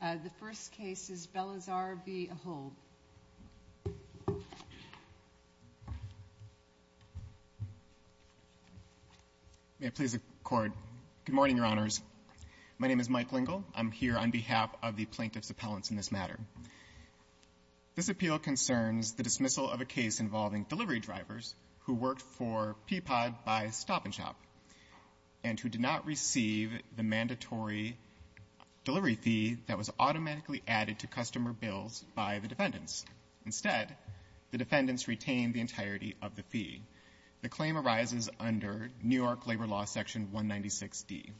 The first case is Belizaire v. Ahold. May I please accord? Good morning, Your Honors. My name is Mike Lingle. I'm here on behalf of the plaintiff's appellants in this matter. This appeal concerns the dismissal of a case involving delivery drivers who worked for Peapod by Stop and Shop and who did not receive the mandatory delivery fee that was automatically added to customer bills by the defendants. Instead, the defendants retained the entirety of the fee. The claim arises under New York Labor Law Section 196D.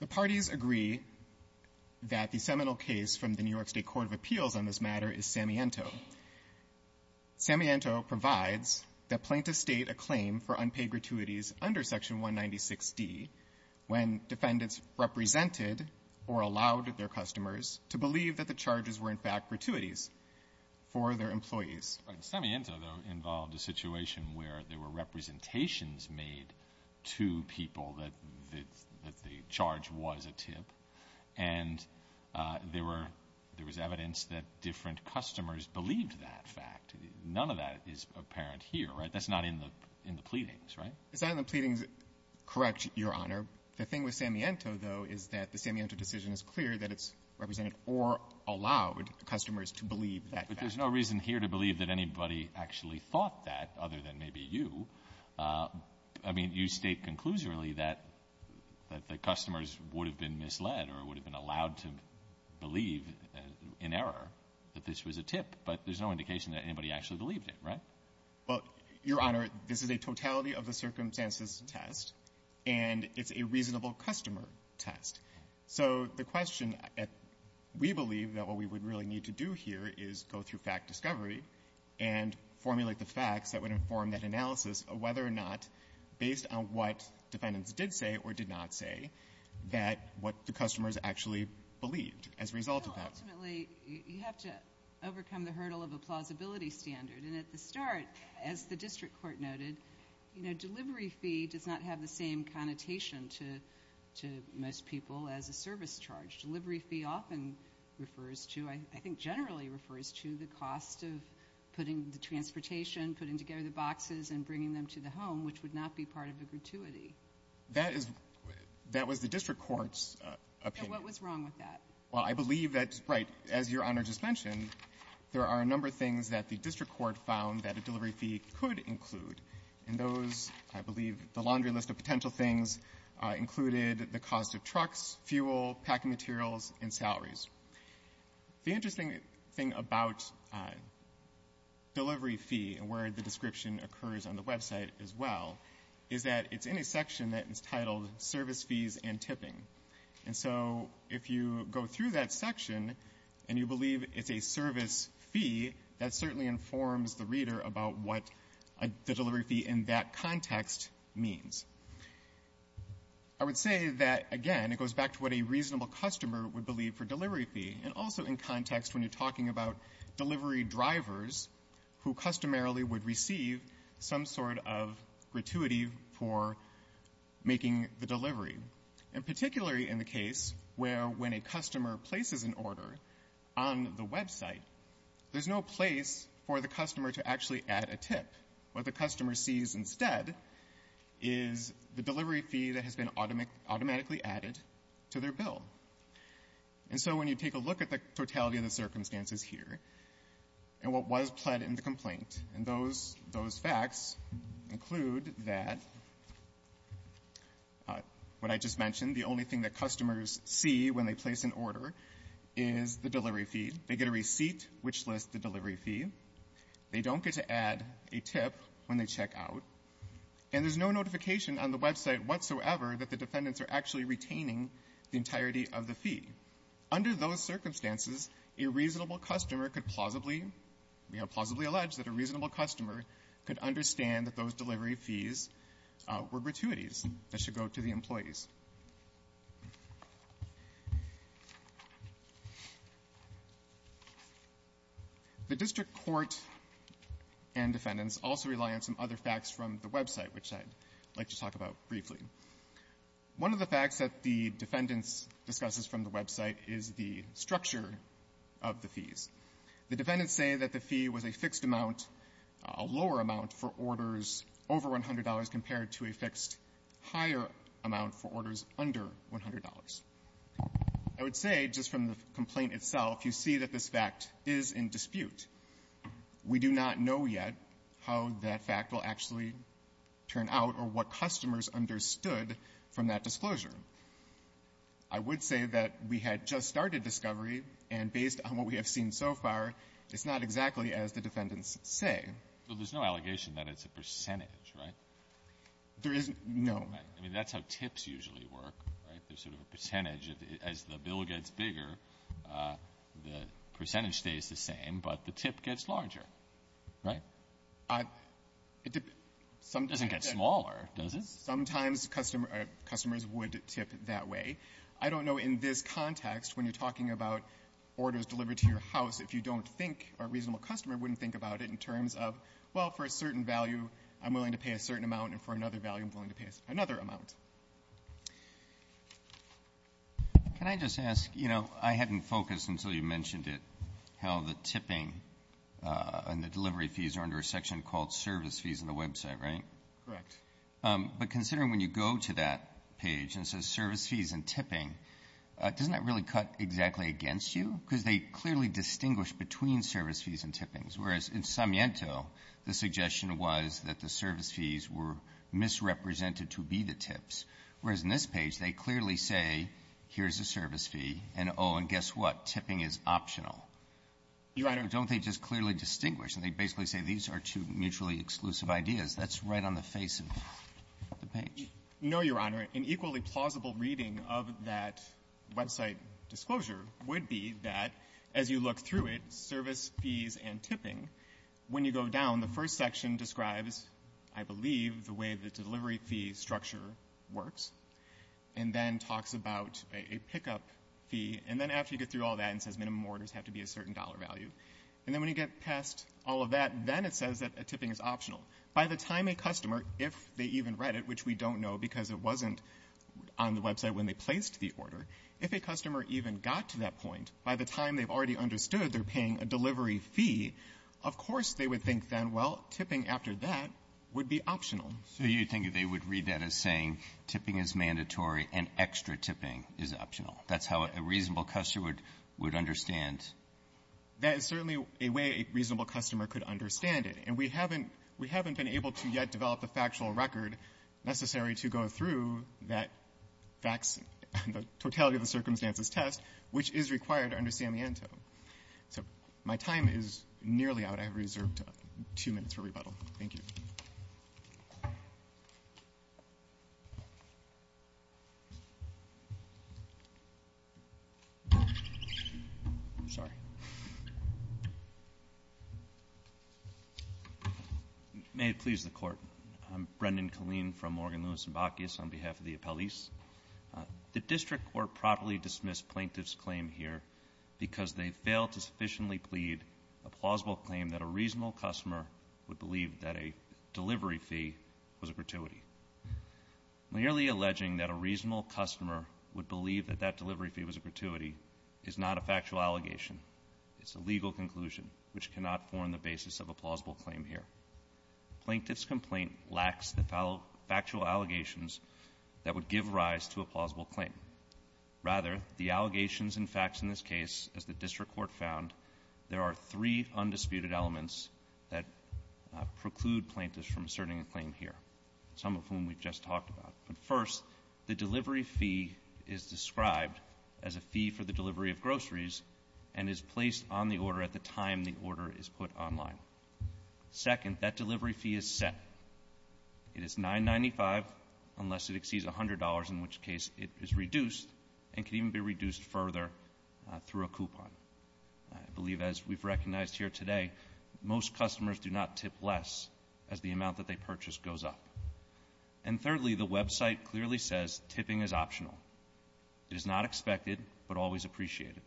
The parties agree that the seminal case from the New York State Court of Appeals on this matter is Samiento. Samiento provides that plaintiffs state a claim for unpaid gratuities under Section 196D when defendants represented or allowed their customers to believe that the charges were, in fact, gratuities for their employees. Samiento, though, involved a situation where there were representations made to people that the charge was a tip, and there was evidence that different customers believed that fact. None of that is apparent here, right? That's not in the pleadings, right? It's not in the pleadings, correct, Your Honor. The thing with Samiento, though, is that the Samiento decision is clear that it's represented or allowed customers to believe that fact. But there's no reason here to believe that anybody actually thought that other than maybe you. I mean, you state conclusively that the customers would have been misled or would have been allowed to believe in error that this was a tip, but there's no indication that anybody actually believed it, right? Well, Your Honor, this is a totality of the circumstances test, and it's a reasonable customer test. So the question, we believe that what we would really need to do here is go through fact discovery and formulate the facts that would inform that analysis of whether or not, based on what defendants did say or did not say, that what the customers actually believed as a result of that. Well, ultimately, you have to overcome the hurdle of a plausibility standard. And at the start, as the district court noted, you know, delivery fee does not have the same connotation to most people as a service charge. Delivery fee often refers to, I think generally refers to, the cost of putting the transportation, putting together the boxes and bringing them to the home, which would not be part of the gratuity. That is the district court's opinion. So what was wrong with that? Well, I believe that, right, as Your Honor just mentioned, there are a number of things that the district court found that a delivery fee could include. And those, I believe, the laundry list of potential things included the cost of trucks, fuel, packing materials, and salaries. The interesting thing about delivery fee and where the description occurs on the website as well is that it's in a section that is titled service fees and tipping. And so if you go through that section and you believe it's a service fee, that certainly informs the reader about what the delivery fee in that context means. I would say that, again, it goes back to what a reasonable customer would believe for delivery fee and also in context when you're talking about delivery drivers who customarily would receive some sort of gratuity for making the delivery. And particularly in the case where when a customer places an order on the website, there's no place for the customer to actually add a tip. What the customer sees instead is the delivery fee that has been automatically added to their bill. And so when you take a look at the totality of the circumstances here and what was pled in the complaint, and those facts include that what I just mentioned, the only thing that customers see when they place an order is the delivery fee. They get a receipt which lists the delivery fee. They don't get to add a tip when they check out. And there's no notification on the website whatsoever that the defendants are actually retaining the entirety of the fee. Under those circumstances, a reasonable customer could plausibly, you know, plausibly allege that a reasonable customer could understand that those delivery fees were gratuities that should go to the employees. The district court and defendants also rely on some other facts from the website, which I'd like to talk about briefly. One of the facts that the defendants discusses from the website is the structure of the fees. The defendants say that the fee was a fixed amount, a lower amount for orders over $100 compared to a fixed higher amount for orders under $100. I would say just from the complaint itself, you see that this fact is in dispute. We do not know yet how that fact will actually turn out or what customers understood from that disclosure. I would say that we had just started discovery, and based on what we have seen so far, it's not exactly as the defendants say. So there's no allegation that it's a percentage, right? There is no. Right. I mean, that's how tips usually work, right? There's sort of a percentage. As the bill gets bigger, the percentage stays the same, but the tip gets larger, right? It doesn't get smaller, does it? Sometimes customers would tip that way. I don't know in this context, when you're talking about orders delivered to your house, if you don't think or a reasonable customer wouldn't think about it in terms of, well, for a certain value, I'm willing to pay a certain amount, and for another value, I'm willing to pay another amount. Can I just ask, you know, I hadn't focused until you mentioned it, how the tipping and the delivery fees are under a section called service fees on the website, right? Correct. But considering when you go to that page and it says service fees and tipping, doesn't that really cut exactly against you? Because they clearly distinguish between service fees and tippings, whereas in Samiento, the suggestion was that the service fees were misrepresented to be the tips. Whereas in this page, they clearly say, here's a service fee, and, oh, and guess what, tipping is optional. Your Honor Don't they just clearly distinguish? And they basically say these are two mutually exclusive ideas. That's right on the face of the page. No, Your Honor. An equally plausible reading of that website disclosure would be that as you look through it, service fees and tipping, when you go down, the first section describes, I believe, the way the delivery fee structure works, and then talks about a pickup fee. And then after you get through all that, it says minimum orders have to be a certain dollar value. And then when you get past all of that, then it says that tipping is optional. By the time a customer, if they even read it, which we don't know because it wasn't on the website when they placed the order, if a customer even got to that point, by the time they've already understood they're paying a delivery fee, of course they would think then, well, tipping after that would be optional. So you think they would read that as saying tipping is mandatory and extra tipping is optional. That's how a reasonable customer would understand? That is certainly a way a reasonable customer could understand it. And we haven't been able to yet develop a factual record necessary to go through that totality of the circumstances test, which is required under Samiento. So my time is nearly out. I have reserved two minutes for rebuttal. Thank you. Sorry. May it please the Court. I'm Brendan Killeen from Morgan, Lewis & Bacchus on behalf of the appellees. The district court properly dismissed plaintiff's claim here because they failed to sufficiently plead a plausible claim that a reasonable customer would believe that a delivery fee was a gratuity. Merely alleging that a reasonable customer would believe that that delivery fee was a gratuity is not a factual allegation. It's a legal conclusion, which cannot form the basis of a plausible claim here. Plaintiff's complaint lacks the factual allegations that would give rise to a plausible claim. Rather, the allegations and facts in this case, as the district court found, there are three undisputed elements that preclude plaintiffs from asserting a claim here, some of whom we've just talked about. First, the delivery fee is described as a fee for the delivery of groceries and is placed on the order at the time the order is put online. Second, that delivery fee is set. It is $9.95 unless it exceeds $100, in which case it is reduced and can even be reduced further through a coupon. I believe, as we've recognized here today, most customers do not tip less as the amount that they purchase goes up. And thirdly, the website clearly says tipping is optional. It is not expected, but always appreciated.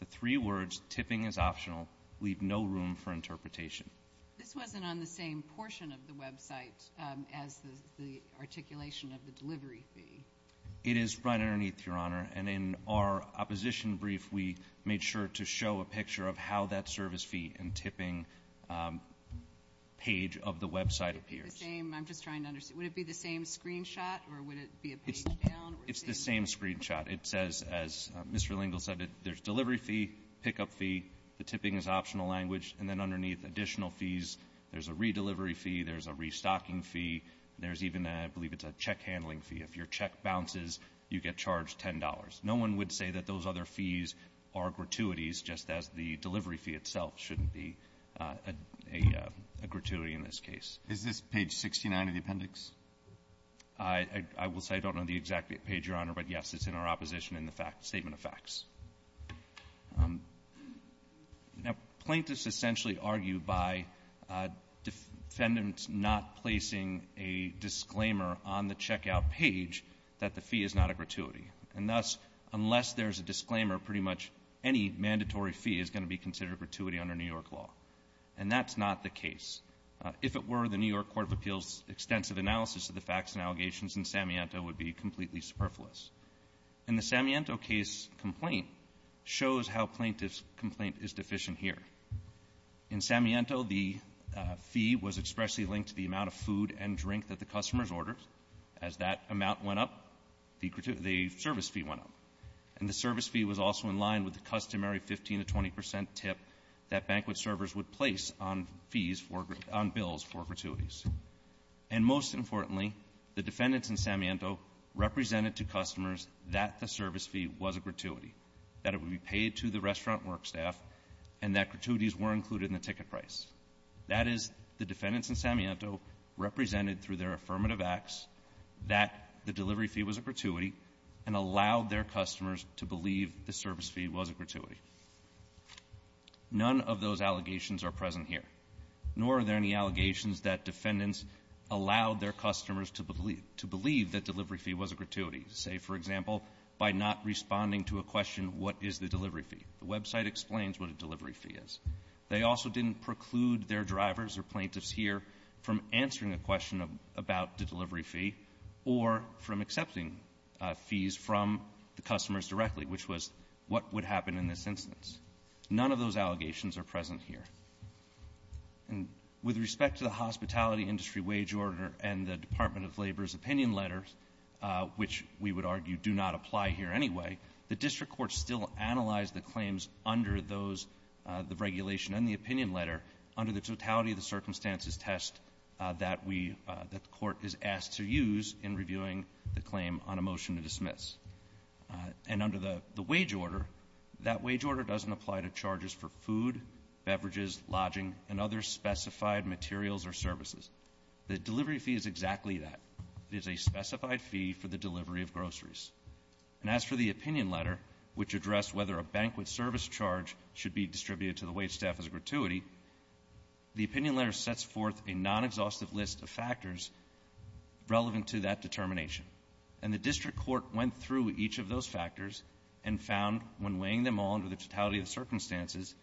The three words, tipping is optional, leave no room for interpretation. This wasn't on the same portion of the website as the articulation of the delivery fee. It is right underneath, Your Honor. And in our opposition brief, we made sure to show a picture of how that service fee and tipping page of the website appears. It's the same. I'm just trying to understand. Would it be the same screenshot, or would it be a page down? It's the same screenshot. It says, as Mr. Lingle said, there's delivery fee, pickup fee. The tipping is optional language. And then underneath, additional fees. There's a redelivery fee. There's a restocking fee. There's even a check handling fee. If your check bounces, you get charged $10. No one would say that those other fees are gratuities, just as the delivery fee itself shouldn't be a gratuity in this case. Is this page 69 of the appendix? I will say I don't know the exact page, Your Honor. But, yes, it's in our opposition in the statement of facts. Now, plaintiffs essentially argue by defendants not placing a disclaimer on the checkout page that the fee is not a gratuity. And thus, unless there's a disclaimer, pretty much any mandatory fee is going to be considered gratuity under New York law. And that's not the case. If it were, the New York Court of Appeals' extensive analysis of the facts and allegations in Samiento would be completely superfluous. And the Samiento case complaint shows how plaintiff's complaint is deficient here. In Samiento, the fee was expressly linked to the amount of food and drink that the customers ordered. As that amount went up, the service fee went up. And the service fee was also in line with the customary 15 to 20 percent tip that banquet servers would place on fees for grat- on bills for gratuities. And most importantly, the defendants in Samiento represented to customers that the service fee was a gratuity, that it would be paid to the restaurant work staff, and that gratuities were included in the ticket price. That is, the defendants in Samiento represented through their affirmative acts that the delivery fee was a gratuity and allowed their customers to believe the service fee was a gratuity. It also assumes that defendants allowed their customers to believe that delivery fee was a gratuity. Say, for example, by not responding to a question, what is the delivery fee? The website explains what a delivery fee is. They also didn't preclude their drivers or plaintiffs here from answering a question about the delivery fee or from accepting fees from the customers directly, which was what would happen in this instance. None of those allegations are present here. And with respect to the hospitality industry wage order and the Department of Labor's opinion letters, which we would argue do not apply here anyway, the district courts still analyze the claims under those, the regulation and the opinion letter, under the totality of the circumstances test that the court is asked to use in reviewing the claim on a motion to dismiss. And under the wage order, that wage order doesn't apply to charges for food, beverages, lodging, and other specified materials or services. The delivery fee is exactly that. It is a specified fee for the delivery of groceries. And as for the opinion letter, which addressed whether a banquet service charge should be distributed to the wage staff as a gratuity, the opinion letter sets forth a non-exhaustive list of factors relevant to that determination. And the district court went through each of those factors and found when weighing them all under the totality of the circumstances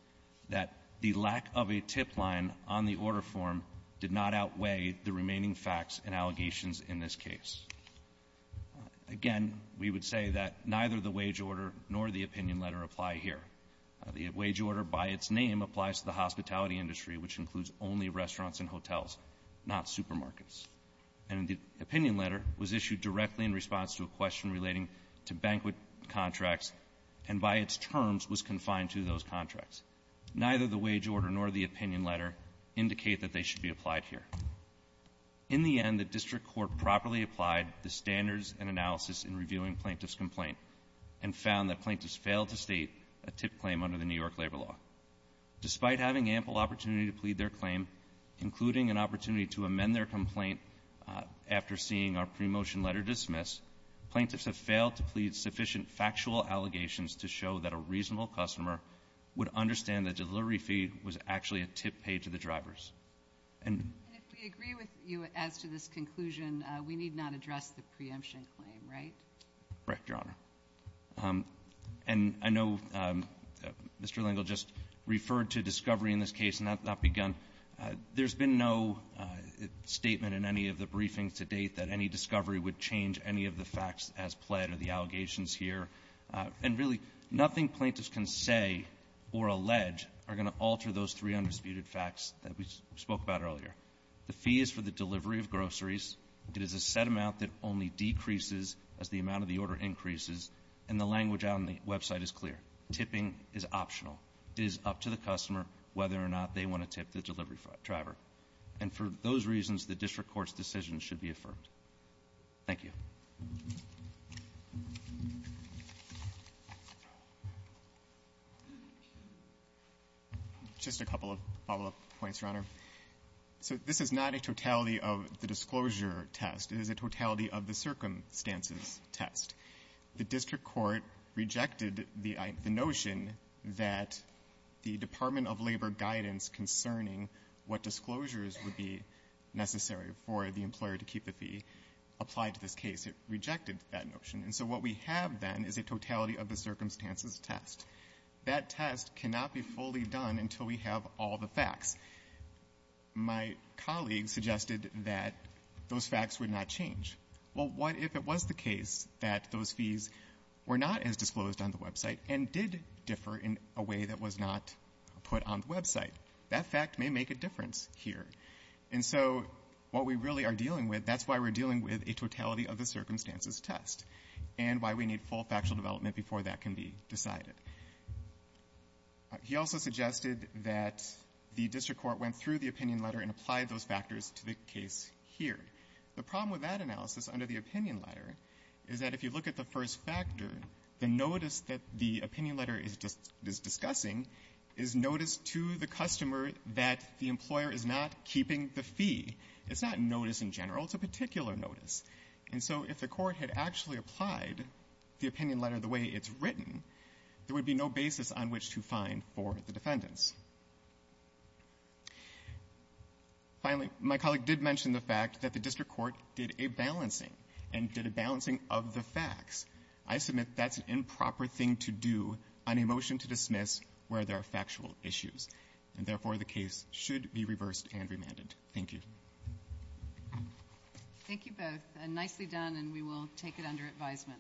that the lack of a tip line on the order form did not outweigh the remaining facts and allegations in this case. Again, we would say that neither the wage order nor the opinion letter apply here. The wage order by its name applies to the hospitality industry, which includes only restaurants and hotels, not supermarkets. And the opinion letter was issued directly in response to a question relating to banquet contracts and by its terms was confined to those contracts. Neither the wage order nor the opinion letter indicate that they should be applied here. In the end, the district court properly applied the standards and analysis in reviewing plaintiff's complaint and found that plaintiffs failed to state a tip claim under the New York labor law. Despite having ample opportunity to plead their claim, including an opportunity to amend their complaint after seeing our pre-motion letter dismissed, plaintiffs have failed to plead sufficient factual allegations to show that a reasonable customer would understand the delivery fee was actually a tip paid to the drivers. And we agree with you as to this conclusion. We need not address the preemption claim, right? Right, Your Honor. And I know Mr. Lengel just referred to discovery in this case, and that's not begun. There's been no statement in any of the briefings to date that any discovery would change any of the facts as pled or the allegations here. And really, nothing plaintiffs can say or allege are going to alter those three undisputed facts that we spoke about earlier. The fee is for the delivery of groceries. It is a set amount that only decreases as the amount of the order increases. And the language on the website is clear. Tipping is optional. It is up to the customer whether or not they want to tip the delivery driver. And for those reasons, the district court's decision should be affirmed. Thank you. Just a couple of follow-up points, Your Honor. So this is not a totality of the disclosure test. It is a totality of the circumstances test. The district court rejected the notion that the Department of Labor guidance concerning what disclosures would be necessary for the employer to keep the fee applied to this case. It rejected that notion. And so what we have, then, is a totality of the circumstances test. That test cannot be fully done until we have all the facts. My colleague suggested that those facts would not change. Well, what if it was the case that those fees were not as disclosed on the website and did differ in a way that was not put on the website? That fact may make a difference here. And so what we really are dealing with, that's why we're dealing with a totality of the circumstances test and why we need full factual development before that can be decided. He also suggested that the district court went through the opinion letter and applied those factors to the case here. The problem with that analysis under the opinion letter is that if you look at the first factor, the notice that the opinion letter is discussing is notice to the customer that the employer is not keeping the fee. It's not notice in general. It's a particular notice. And so if the court had actually applied the opinion letter the way it's written, there would be no basis on which to find for the defendants. Finally, my colleague did mention the fact that the district court did a balancing and did a balancing of the facts. I submit that's an improper thing to do on a motion to dismiss where there are factual issues, and therefore the case should be reversed and remanded. Thank you. Thank you both. Nicely done, and we will take it under advisement.